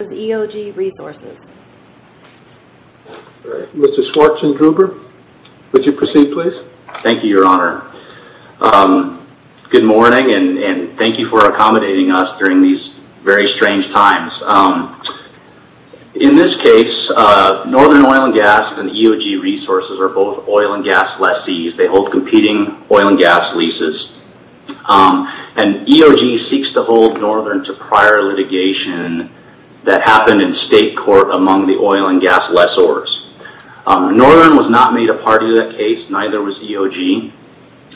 Good morning and thank you for accommodating us during these very strange times. In this case, Northern Oil and Gas and EOG Resources are both oil and gas lessees. They hold competing oil and gas leases. EOG seeks to hold Northern to prior litigation that happened in state court among the oil and gas lessors. Northern was not made a party to that case, neither was EOG,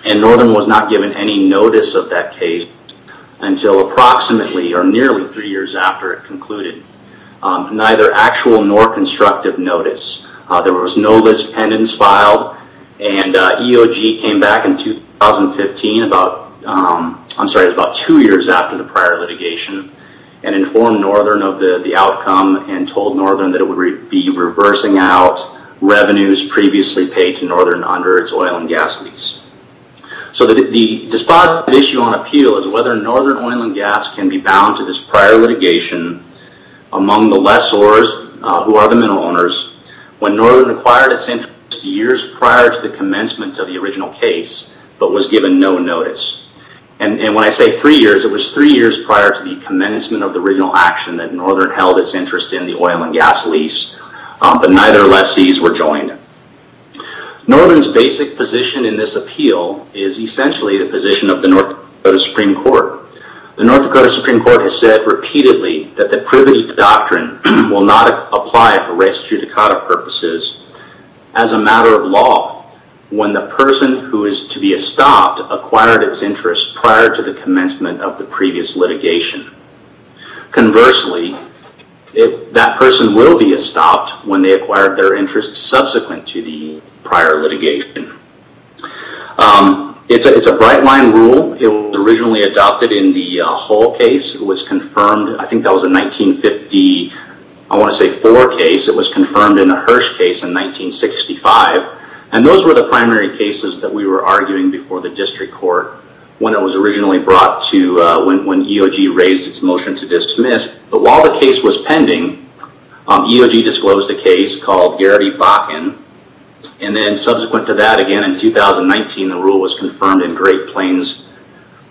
and Northern was not given any notice of that case until approximately or nearly three years after it concluded. Neither actual nor constructive notice. There was no list pendants filed and EOG came back in 2015, I'm sorry, it was about two years after the prior litigation and informed Northern of the outcome and told Northern that it would be reversing out revenues previously paid to Northern under its oil and gas lease. The dispositive issue on appeal is whether Northern Oil and Gas can be bound to this prior litigation among the lessors, who are the mineral owners, when Northern acquired its interest years prior to the commencement of the original case but was given no notice. When I say three years, it was three years prior to the commencement of the original action that Northern held its interest in the oil and gas lease, but neither lessees were joined. Northern's basic position in this appeal is essentially the position of the North Dakota Supreme Court. The North Dakota Supreme Court has said repeatedly that the Privity Doctrine will not apply for res judicata purposes as a matter of law when the person who is to be estopped acquired its interest prior to the commencement of the previous litigation. Conversely, that person will be estopped when they acquired their interest subsequent to the prior litigation. It's a bright line rule. It was originally adopted in the Hull case. It was confirmed, I think that was a 1950, I want to say four case. It was confirmed in a Hirsch case in 1965. Those were the primary cases that we were arguing before the district court when it was originally brought to, when EOG raised its motion to dismiss. While the case was pending, EOG disclosed a case called Garrity Bakken. Subsequent to that, again in 2019, the rule was confirmed in Great Plains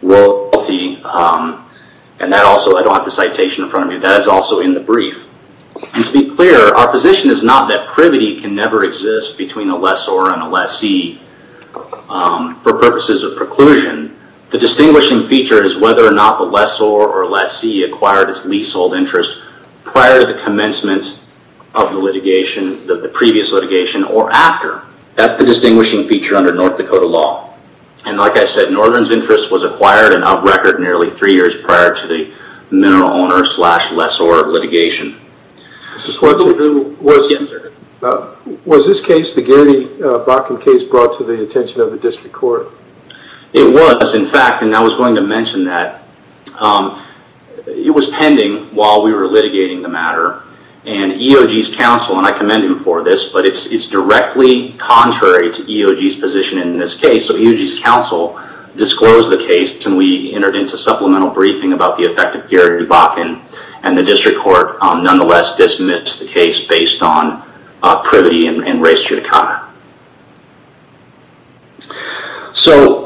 Royalty. That also, I don't have the citation in front of me, that is also in the brief. To be clear, our position is not that privity can never exist between a lessor and a lessee for purposes of preclusion. The distinguishing feature is whether or not the lessor or lessee acquired its leasehold interest prior to the commencement of the litigation, the previous litigation, or after. That's the distinguishing feature under North Dakota law. Like I said, Northern's interest was acquired and up-recorded nearly three years prior to the mineral owner slash lessor litigation. Was this case, the Garrity Bakken case, brought to the attention of the district court? It was, in fact, and I was going to mention that. It was pending while we were litigating the matter. EOG's counsel, and I commend him for this, but it's directly contrary to EOG's position in this case. EOG's counsel disclosed the case and we entered into supplemental briefing about the effect of Garrity Bakken. The district court, nonetheless, dismissed the case based on privity and res judicata.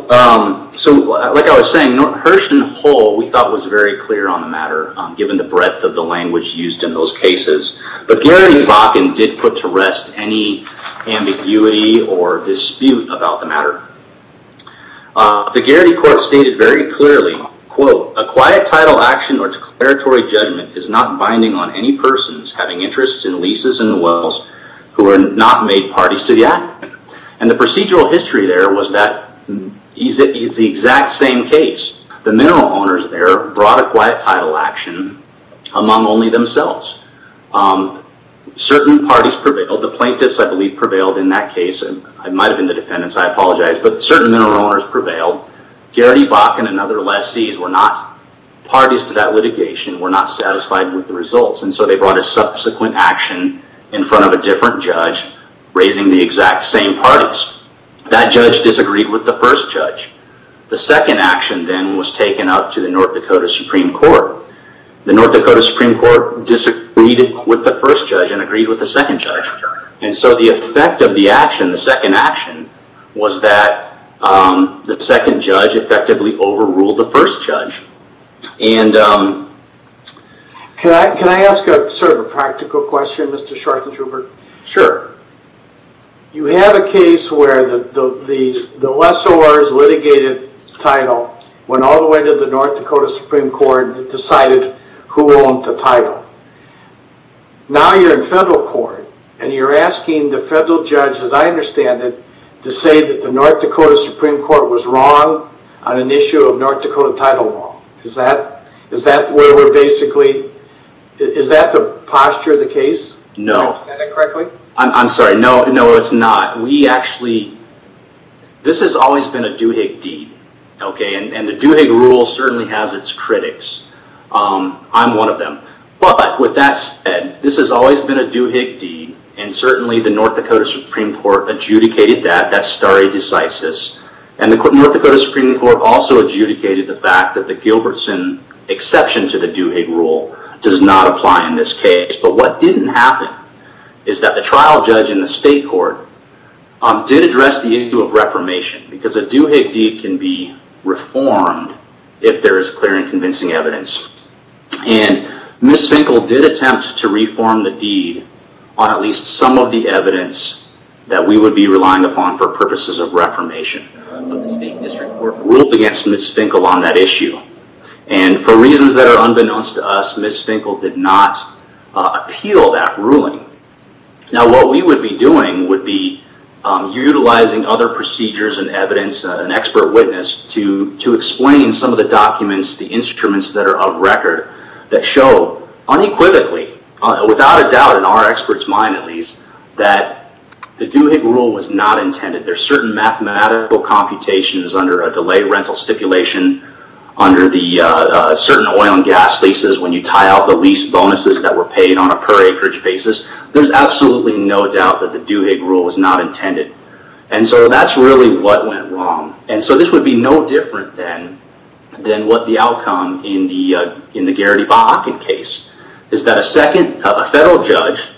Like I was saying, Hersch and Hull, we thought, was very clear on the matter, given the breadth of the language used in those cases. Garrity Bakken did put to rest any ambiguity or dispute about the matter. The Garrity Court stated very clearly, quote, Certain parties prevailed. The plaintiffs, I believe, prevailed in that case. I might have been the defendants, I apologize, but certain mineral owners prevailed. Garrity Bakken and other lessees were not parties to that litigation, were not satisfied with the results. They brought a subsequent action in front of a different judge, raising the exact same parties. That judge disagreed with the first judge. The second action then was taken up to the North Dakota Supreme Court. The North Dakota Supreme Court disagreed with the first judge and agreed with the second judge. The effect of the action, the second action, was that the second judge effectively overruled the first judge. Can I ask a practical question, Mr. Shortenshubert? Sure. You have a case where the lessor's litigated title went all the way to the North Dakota Supreme Court and decided who owned the title. Now you're in federal court and you're asking the federal judge, as I understand it, to say that the North Dakota Supreme Court was wrong on an issue of North Dakota title law. Is that where we're basically... Is that the posture of the case? No. Did I understand that correctly? I'm sorry. No, it's not. We actually... This has always been a Duhigg deed, and the Duhigg rule certainly has its critics. I'm one of them. With that said, this has always been a Duhigg deed, and certainly the North Dakota Supreme Court adjudicated that. That's stare decisis. The North Dakota Supreme Court also adjudicated the fact that the Gilbertson exception to the Duhigg rule does not apply in this case. What didn't happen is that the trial judge in the state court did address the issue of reformation, because a Duhigg deed can be reformed if there is clear and convincing evidence. Ms. Finkel did attempt to reform the deed on at least some of the evidence that we would be relying upon for purposes of reformation. The state district court ruled against Ms. Finkel on that issue. For reasons that are unbeknownst to us, Ms. Finkel did not appeal that ruling. Now, what we would be doing would be utilizing other procedures and evidence, an expert witness, to explain some of the documents, the instruments that are of record, that show unequivocally, without a doubt in our expert's mind at least, that the Duhigg rule was not intended. There's certain mathematical computations under a delayed rental stipulation, under the certain oil and gas leases when you tie out the lease bonuses that were paid on a per acreage basis. There's absolutely no doubt that the Duhigg rule was not intended. That's really what went wrong. This would be no different than what the outcome in the Garrity Bakken case, is that a federal judge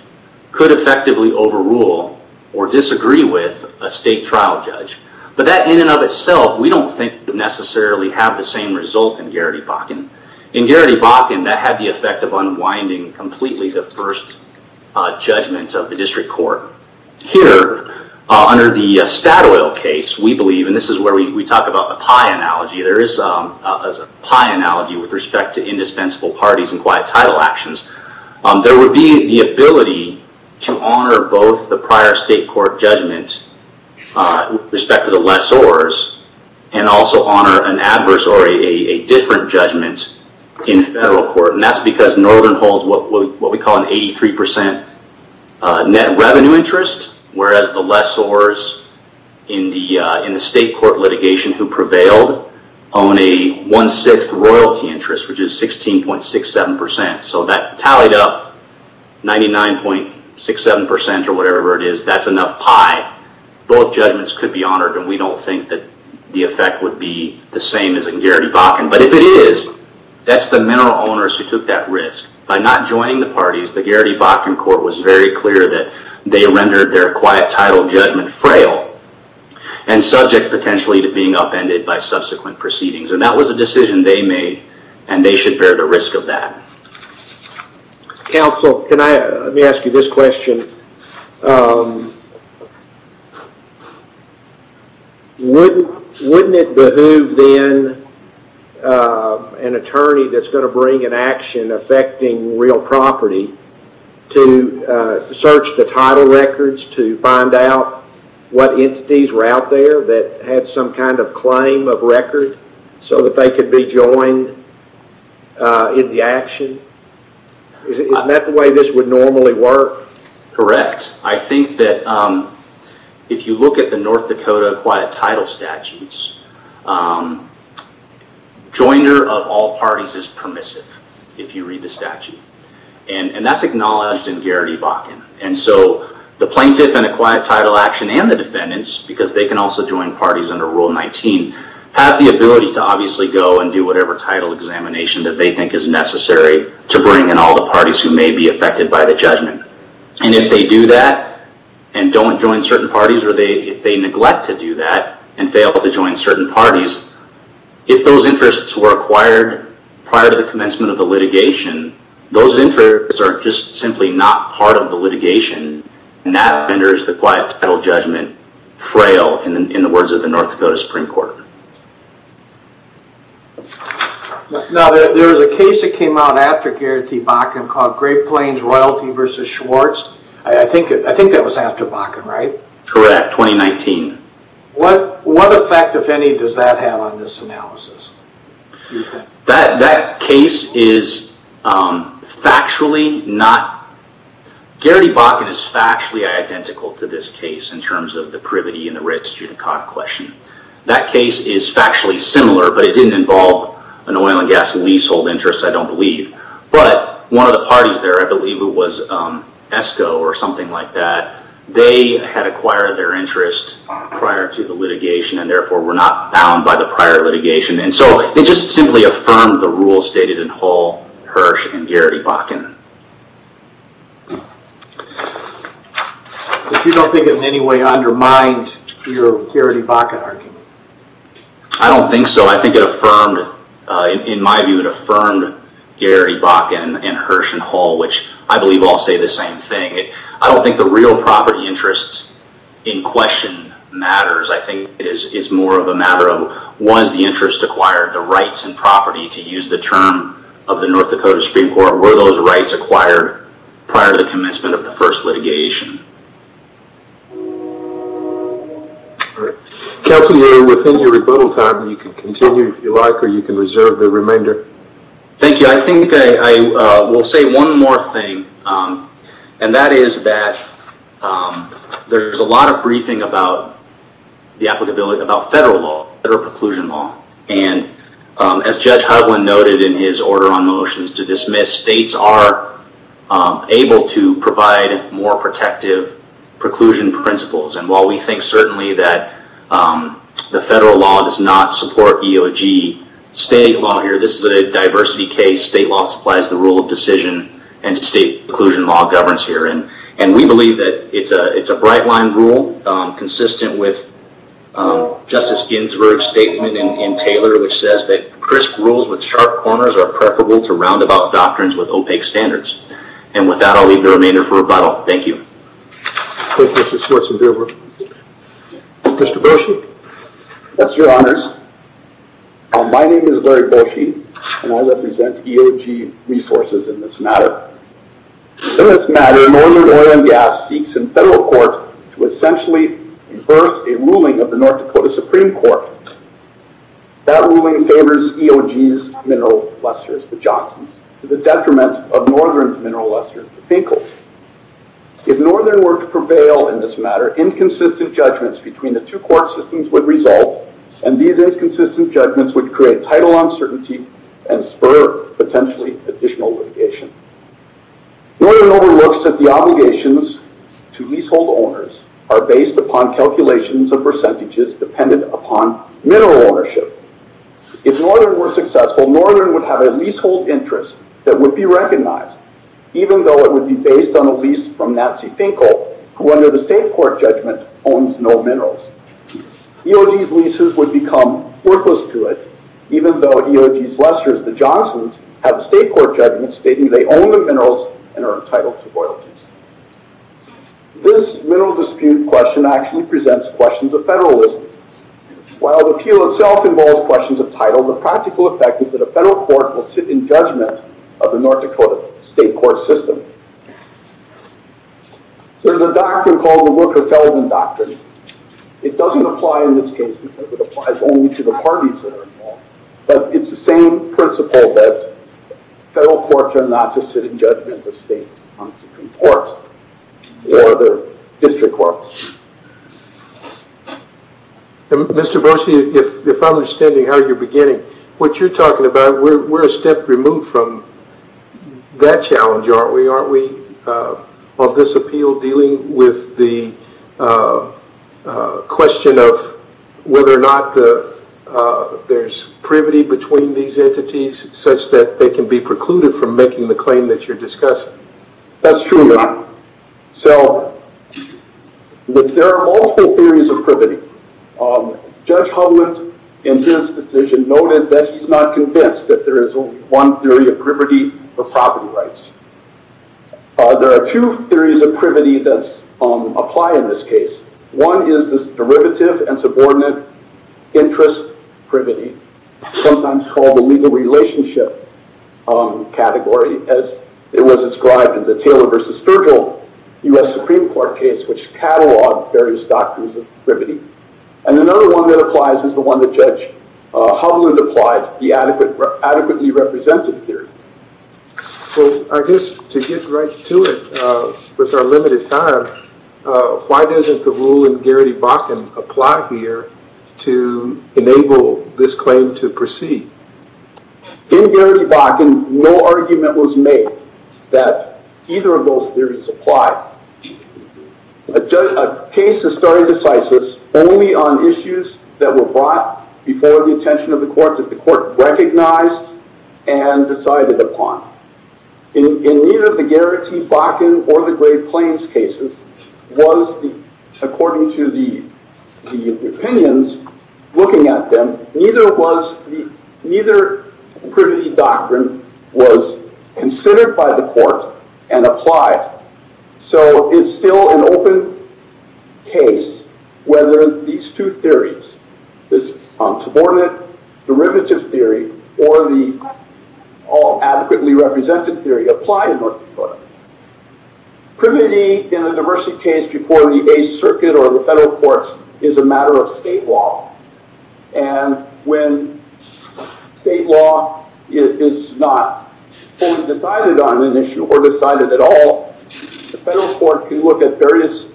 could effectively overrule or disagree with a state trial judge. That in and of itself, we don't think would necessarily have the same result in Garrity Bakken. In Garrity Bakken, that had the effect of unwinding completely the first judgment of the district court. Here, under the Statoil case, we believe, and this is where we talk about the pie analogy. There is a pie analogy with respect to indispensable parties and quiet title actions. There would be the ability to honor both the prior state court judgment with respect to the lessors, and also honor an adverse or a different judgment in federal court. That's because Northern holds what we call an 83% net revenue interest, whereas the lessors in the state court litigation who prevailed own a one-sixth royalty interest, which is 16.67%. That tallied up 99.67% or whatever it is. That's enough pie. Both judgments could be honored, and we don't think that the effect would be the same as in Garrity Bakken. If it is, that's the mineral owners who took that risk. By not joining the parties, the Garrity Bakken court was very clear that they rendered their quiet title judgment frail, and subject potentially to being upended by subsequent proceedings. That was a decision they made, and they should bear the risk of that. Counsel, let me ask you this question. Wouldn't it behoove then an attorney that's going to bring an action affecting real property to search the title records to find out what entities were out there that had some kind of claim of record so that they could be joined in the action? Isn't that the way this would normally work? Correct. I think that if you look at the North Dakota quiet title statutes, joiner of all parties is permissive if you read the statute. That's acknowledged in Garrity Bakken. The plaintiff in a quiet title action and the defendants, because they can also join parties under Rule 19, have the ability to obviously go and do whatever title examination that they think is necessary to bring in all the parties who may be affected by the judgment. If they do that and don't join certain parties, or if they neglect to do that and fail to join certain parties, if those interests were acquired prior to the commencement of the litigation, those interests are just simply not part of the litigation, and that renders the quiet title judgment frail in the words of the North Dakota Supreme Court. Now, there was a case that came out after Garrity Bakken called Great Plains Royalty v. Schwartz. I think that was after Bakken, right? Correct, 2019. What effect, if any, does that have on this analysis? That case is factually not... Garrity Bakken is factually identical to this case in terms of the Privity and the Writs Judicata question. That case is factually similar, but it didn't involve an oil and gas leasehold interest, I don't believe. But one of the parties there, I believe it was ESCO or something like that, and therefore were not bound by the prior litigation. They just simply affirmed the rules stated in Hull, Hirsch, and Garrity Bakken. But you don't think it in any way undermined your Garrity Bakken argument? I don't think so. I think it affirmed, in my view, it affirmed Garrity Bakken and Hirsch and Hull, which I believe all say the same thing. I don't think the real property interests in question matters. I think it's more of a matter of was the interest acquired, the rights and property, to use the term of the North Dakota Supreme Court, were those rights acquired prior to the commencement of the first litigation? Counsel, you're within your rebuttal time. You can continue if you like, or you can reserve the remainder. Thank you. I think I will say one more thing, and that is that there's a lot of briefing about the applicability, about federal law, federal preclusion law, and as Judge Hovland noted in his order on motions to dismiss, states are able to provide more protective preclusion principles, and while we think certainly that the federal law does not support EOG state law here, this is a diversity case. State law supplies the rule of decision, and state preclusion law governs here, and we believe that it's a bright line rule, consistent with Justice Ginsburg's statement in Taylor, which says that crisp rules with sharp corners are preferable to roundabout doctrines with opaque standards. And with that, I'll leave the remainder for rebuttal. Thank you. Thank you, Mr. Schwartzenberger. Mr. Bershe, that's your honors. My name is Larry Bershe, and I represent EOG resources in this matter. In this matter, Northern Oil and Gas seeks in federal court to essentially reverse a ruling of the North Dakota Supreme Court. That ruling favors EOG's mineral lusters, the Johnsons, to the detriment of Northern's mineral lusters, the Finkels. If Northern were to prevail in this matter, inconsistent judgments between the two court systems would resolve, and these inconsistent judgments would create title uncertainty and spur potentially additional litigation. Northern overlooks that the obligations to leasehold owners are based upon calculations of percentages dependent upon mineral ownership. If Northern were successful, Northern would have a leasehold interest that would be recognized, even though it would be based on a lease from Natsi Finkel, who under the state court judgment owns no minerals. EOG's leases would become worthless to it, even though EOG's lusters, the Johnsons, have a state court judgment stating they own the minerals and are entitled to royalties. This mineral dispute question actually presents questions of federalism. While the appeal itself involves questions of title, the practical effect is that a federal court will sit in judgment of the North Dakota state court system. There's a doctrine called the Worker-Felon Doctrine. It doesn't apply in this case because it applies only to the parties that are involved, but it's the same principle that federal courts are not to sit in judgment of state courts or other district courts. Mr. Boesche, if I'm understanding how you're beginning, what you're talking about, we're a step removed from that challenge, aren't we? Are we, on this appeal, dealing with the question of whether or not there's privity between these entities such that they can be precluded from making the claim that you're discussing? That's true, Your Honor. There are multiple theories of privity. Judge Hovland, in his decision, noted that he's not convinced that there is only one theory of privity for property rights. There are two theories of privity that apply in this case. One is this derivative and subordinate interest privity, sometimes called the legal relationship category, as it was described in the Taylor v. Virgil U.S. Supreme Court case, which cataloged various doctrines of privity. And another one that applies is the one that Judge Hovland applied, the adequately represented theory. Well, I guess to get right to it, with our limited time, why doesn't the rule in Geraghty-Bachan apply here to enable this claim to proceed? In Geraghty-Bachan, no argument was made that either of those theories apply. A case of stare decisis only on issues that were brought before the attention of the courts, that the court recognized and decided upon. In either of the Geraghty-Bachan or the Great Plains cases, according to the opinions looking at them, neither privity doctrine was considered by the court and applied. So it's still an open case whether these two theories, this subordinate derivative theory or the adequately represented theory, apply in North Dakota. Privity in a diversity case before the Eighth Circuit or the federal courts is a matter of state law. And when state law is not fully decided on an issue or decided at all, the federal court can look at various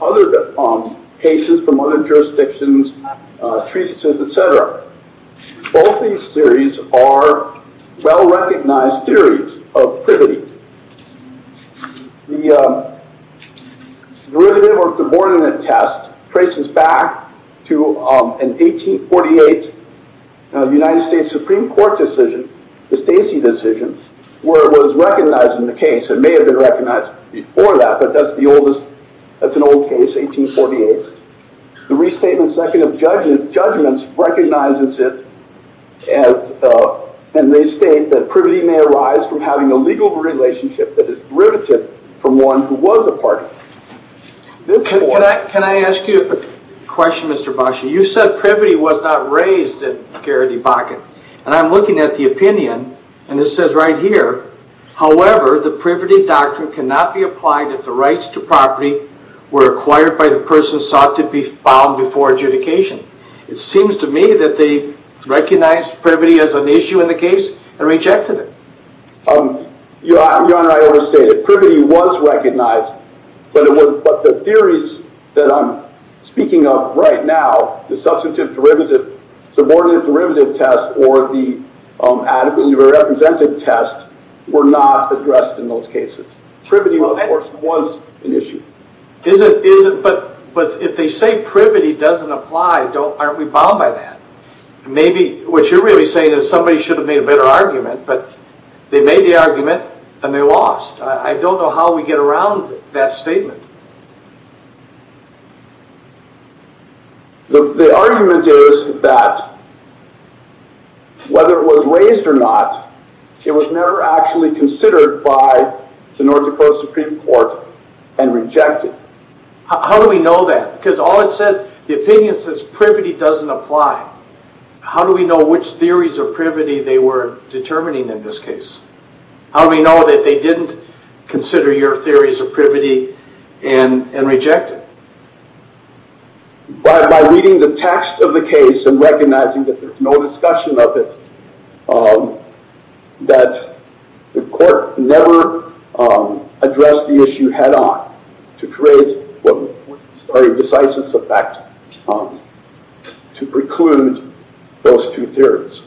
other cases from other jurisdictions, treatises, etc. Both these theories are well-recognized theories of privity. The derivative or subordinate test traces back to an 1848 United States Supreme Court decision, the Stacey decision, where it was recognized in the case. It may have been recognized before that, but that's an old case, 1848. The restatement second of judgments recognizes it and they state that privity may arise from having a legal relationship that is derivative from one who was a party. Can I ask you a question, Mr. Bachan? You said privity was not raised at Geraghty-Bachan. And I'm looking at the opinion, and it says right here, however, the privity doctrine cannot be applied if the rights to property were acquired by the person sought to be found before adjudication. It seems to me that they recognized privity as an issue in the case and rejected it. Your Honor, I overstate it. Privity was recognized, but the theories that I'm speaking of right now, the substantive derivative, subordinate derivative test, or the adequately represented test were not addressed in those cases. Privity, of course, was an issue. But if they say privity doesn't apply, aren't we bound by that? Maybe what you're really saying is somebody should have made a better argument, but they made the argument and they lost. I don't know how we get around that statement. The argument is that whether it was raised or not, it was never actually considered by the North Dakota Supreme Court and rejected. How do we know that? Because all it says, the opinion says privity doesn't apply. How do we know which theories of privity they were determining in this case? By reading the text of the case and recognizing that there's no discussion of it, that the court never addressed the issue head-on to create what was a very decisive effect to preclude those two theories.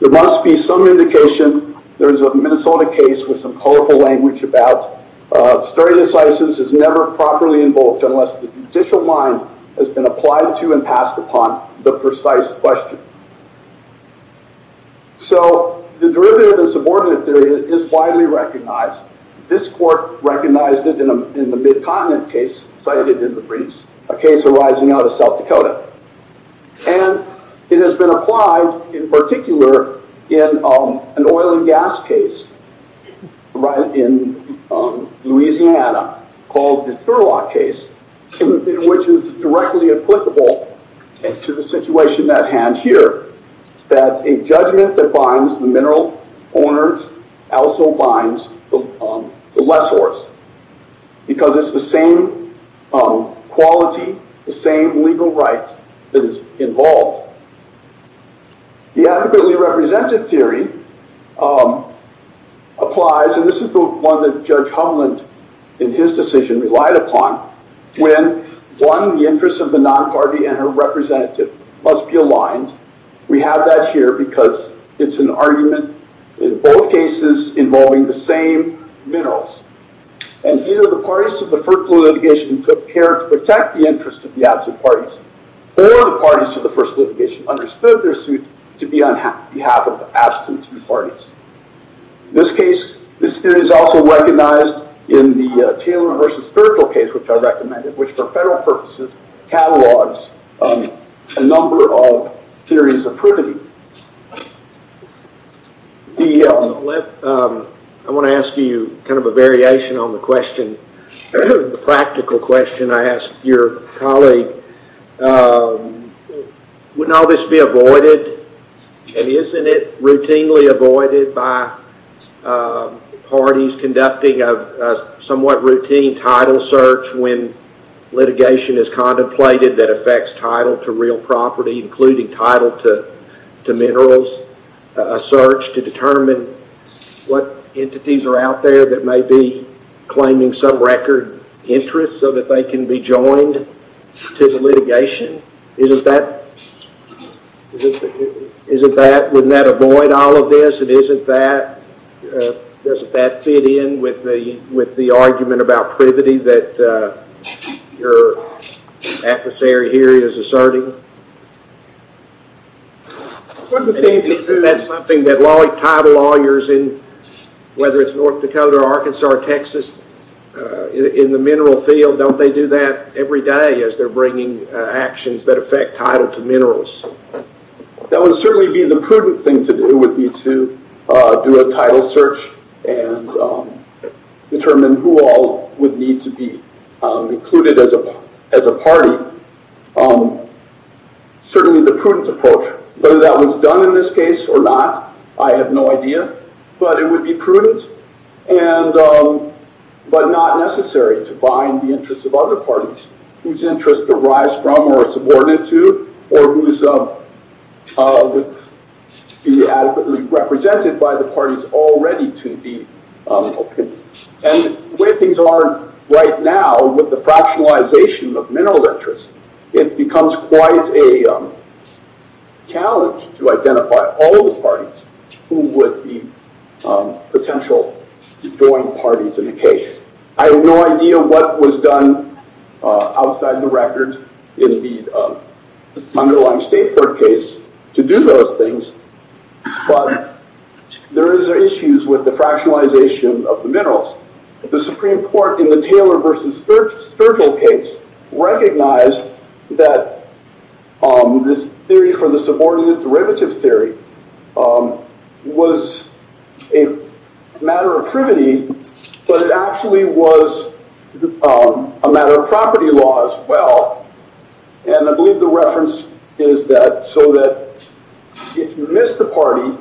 There must be some indication. There is a Minnesota case with some colorful language about stare decisis is never properly invoked unless the judicial mind has been applied to and passed upon the precise question. The derivative and subordinate theory is widely recognized. This court recognized it in the Mid-Continent case cited in the briefs, a case arising out of South Dakota. And it has been applied in particular in an oil and gas case in Louisiana called the Sherlock case, which is directly applicable to the situation at hand here, that a judgment that binds the mineral owners also binds the lessors because it's the same quality, the same legal right that is involved. The adequately represented theory applies, and this is the one that Judge Humland in his decision relied upon, when one, the interests of the non-party and her representative must be aligned. We have that here because it's an argument in both cases involving the same minerals. And either the parties to the first litigation took care to protect the interests of the absent parties, or the parties to the first litigation understood their suit to be on behalf of the absent parties. This theory is also recognized in the Taylor versus Virgil case, which I recommended, which for federal purposes, catalogs a number of theories of prudity. I want to ask you kind of a variation on the question, the practical question I ask your colleague. Wouldn't all this be avoided? And isn't it routinely avoided by parties conducting a somewhat routine title search when litigation is contemplated that affects title to real property, including title to minerals, a search to determine what entities are out there that may be claiming some record interest so that they can be joined to the litigation? Wouldn't that avoid all of this? Doesn't that fit in with the argument about privity that your adversary here is asserting? Isn't that something that title lawyers, whether it's North Dakota or Arkansas or Texas, in the mineral field, don't they do that every day as they're bringing actions that affect title to minerals? That would certainly be the prudent thing to do, would be to do a title search and determine who all would need to be included as a party. Certainly the prudent approach, whether that was done in this case or not, I have no idea, but it would be prudent, but not necessary to bind the interests of other parties whose interests arise from or are subordinate to, or who would be adequately represented by the parties already to the opinion. The way things are right now with the fractionalization of mineral interests, it becomes quite a challenge to identify all the parties who would be potential joining parties in the case. I have no idea what was done outside the record in the underlying State Court case to do those things, but there is issues with the fractionalization of the minerals. The Supreme Court in the Taylor v. Sturgill case recognized that this theory for the subordinate derivative theory was a matter of privity, but it actually was a matter of property law as well. I believe the reference is that so that if you miss the party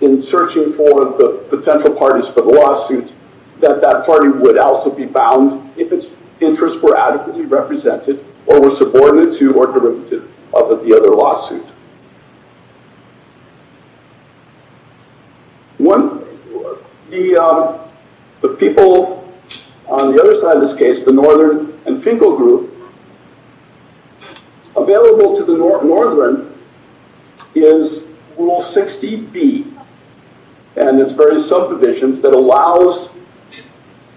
in searching for the potential parties for the lawsuit, that that party would also be bound if its interests were adequately represented or were subordinate to or derivative of the other lawsuit. The people on the other side of this case, the Northern and Finkel Group, available to the Northern is Rule 60B and its various subdivisions that allows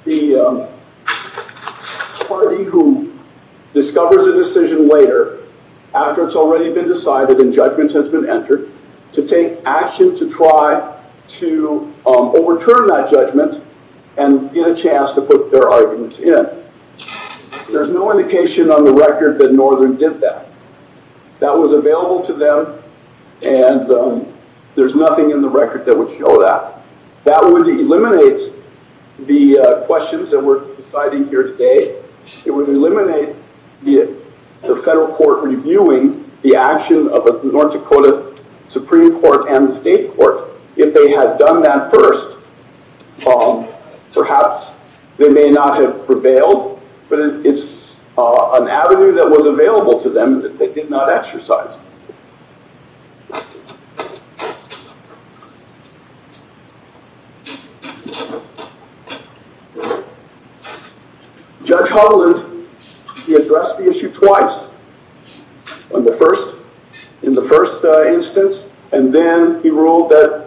the party who discovers a decision later, after it's already been decided and judgment has been entered, to take action to try to overturn that judgment and get a chance to put their arguments in. There's no indication on the record that Northern did that. That was available to them and there's nothing in the record that would show that. That would eliminate the questions that we're deciding here today. It would eliminate the federal court reviewing the action of the North Dakota Supreme Court and the state court. If they had done that first, perhaps they may not have prevailed, but it's an avenue that was available to them that they did not exercise. Judge Hovland, he addressed the issue twice in the first instance and then he ruled that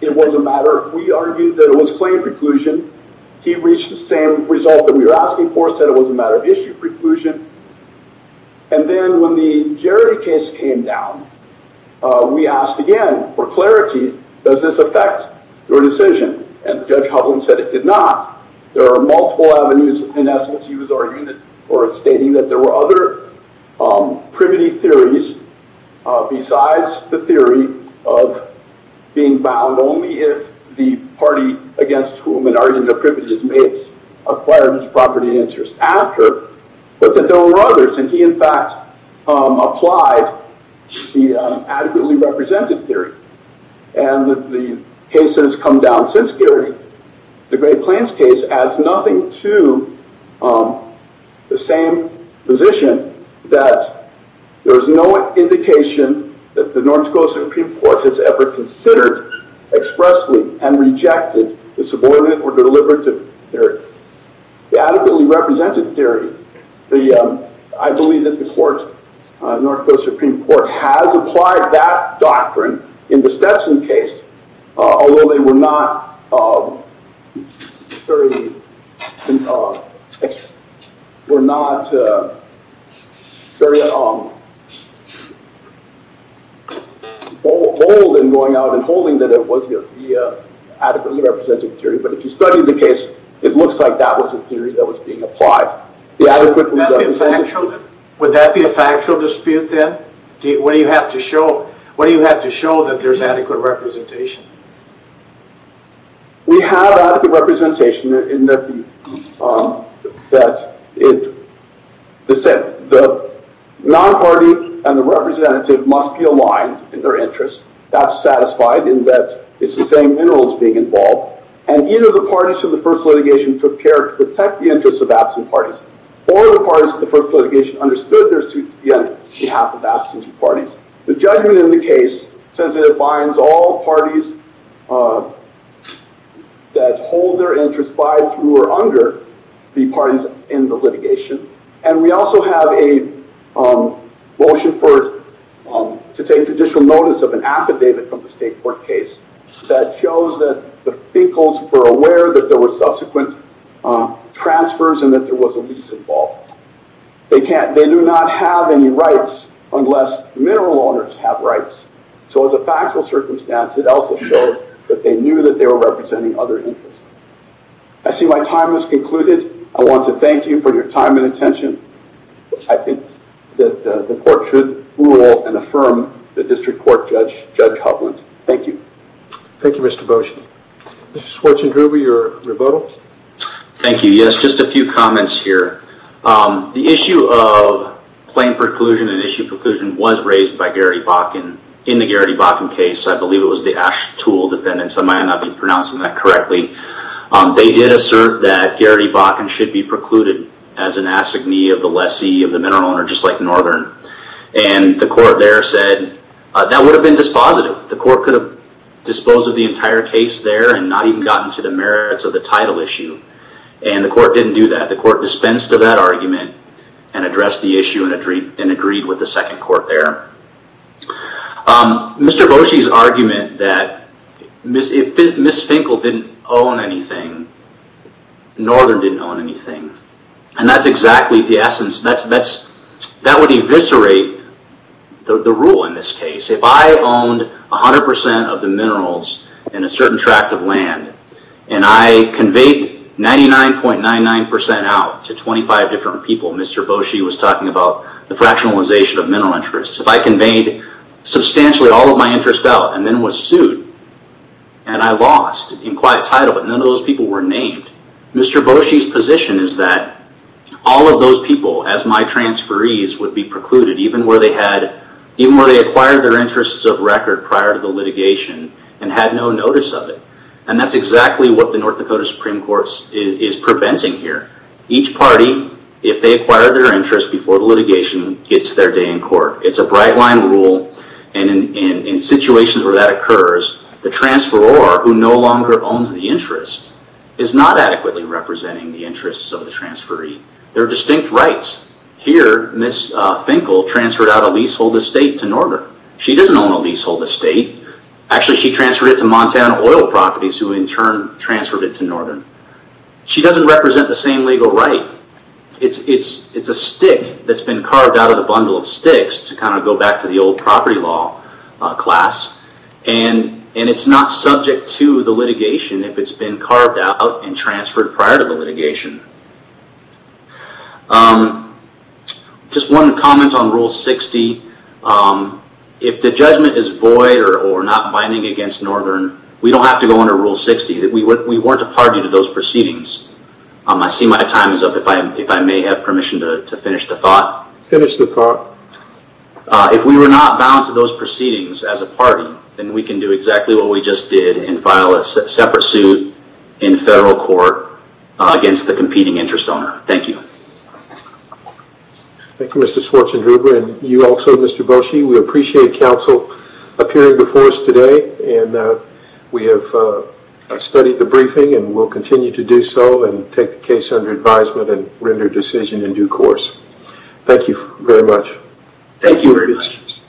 it was a matter, we argued that it was claim preclusion. He reached the same result that we were asking for, said it was a matter of issue preclusion. And then when the Jerry case came down, we asked again for clarity, does this affect your decision and Judge Hovland said it did not. There are multiple avenues in essence he was arguing or stating that there were other privity theories besides the theory of being bound only if the party against whom an argument of privity is made acquired his property interest after, but that there were others. And he in fact applied the adequately represented theory. And the case that has come down since Gary, the Great Plains case adds nothing to the same position that there is no indication that the North Dakota Supreme Court has ever considered expressly and rejected the subordinate or deliberative theory. The adequately represented theory, I believe that the court, North Dakota Supreme Court has applied that doctrine in the Stetson case, although they were not very old in going out and holding that it was the adequately represented theory. But if you study the case, it looks like that was a theory that was being applied. Would that be a factual dispute then? What do you have to show that there is adequate representation? We have adequate representation in that the non-party and the representative must be aligned in their interests. That's satisfied in that it's the same minerals being involved. And either the parties to the first litigation took care to protect the interests of absent parties or the parties to the first litigation understood their suit to be on behalf of absent parties. The judgment in the case says it binds all parties that hold their interests by, through, or under the parties in the litigation. And we also have a motion to take judicial notice of an affidavit from the state court case that shows that the Finkels were aware that there were subsequent transfers and that there was a lease involved. They do not have any rights unless mineral owners have rights. So as a factual circumstance, it also showed that they knew that they were representing other interests. I see my time has concluded. I want to thank you for your time and attention. I think that the court should rule and affirm the district court judge, Judge Hovland. Thank you. Thank you, Mr. Beauchene. Mr. Schwartzendruber, your rebuttal. Thank you. Yes, just a few comments here. The issue of plain preclusion and issue preclusion was raised by Garrity Bakken in the Garrity Bakken case. I believe it was the Ashtool defendants. I might not be pronouncing that correctly. They did assert that Garrity Bakken should be precluded as an assignee of the lessee of the mineral owner, just like Northern. The court there said that would have been dispositive. The court could have disposed of the entire case there and not even gotten to the merits of the title issue. The court didn't do that. The court dispensed of that argument and addressed the issue and agreed with the second court there. Mr. Beauchene's argument that Ms. Finkel didn't own anything, Northern didn't own anything. That's exactly the essence. That would eviscerate the rule in this case. If I owned 100% of the minerals in a certain tract of land and I conveyed 99.99% out to 25 different people, Mr. Beauchene was talking about the fractionalization of mineral interests. If I conveyed substantially all of my interest out and then was sued and I lost in quiet title, but none of those people were named, Mr. Beauchene's position is that all of those people, as my transferees, would be precluded, even where they acquired their interests of record prior to the litigation and had no notice of it. That's exactly what the North Dakota Supreme Court is preventing here. Each party, if they acquired their interest before the litigation, gets their day in court. It's a bright line rule. In situations where that occurs, the transferor, who no longer owns the interest, is not adequately representing the interests of the transferee. There are distinct rights. Here, Ms. Finkel transferred out a leasehold estate to Northern. She doesn't own a leasehold estate. Actually, she transferred it to Montana Oil Properties, who in turn transferred it to Northern. She doesn't represent the same legal right. It's a stick that's been carved out of the bundle of sticks to go back to the old property law class. It's not subject to the litigation if it's been carved out and transferred prior to the litigation. Just one comment on Rule 60. If the judgment is void or not binding against Northern, we don't have to go under Rule 60. We weren't a party to those proceedings. I see my time is up. If I may have permission to finish the thought. Finish the thought. If we were not bound to those proceedings as a party, then we can do exactly what we just did and file a separate suit in federal court against the competing interest owner. Thank you. Thank you, Mr. Schwarzenegger. You also, Mr. Boshi, we appreciate counsel appearing before us today. We have studied the briefing and will continue to do so and take the case under advisement and render decision in due course. Thank you very much. Thank you very much.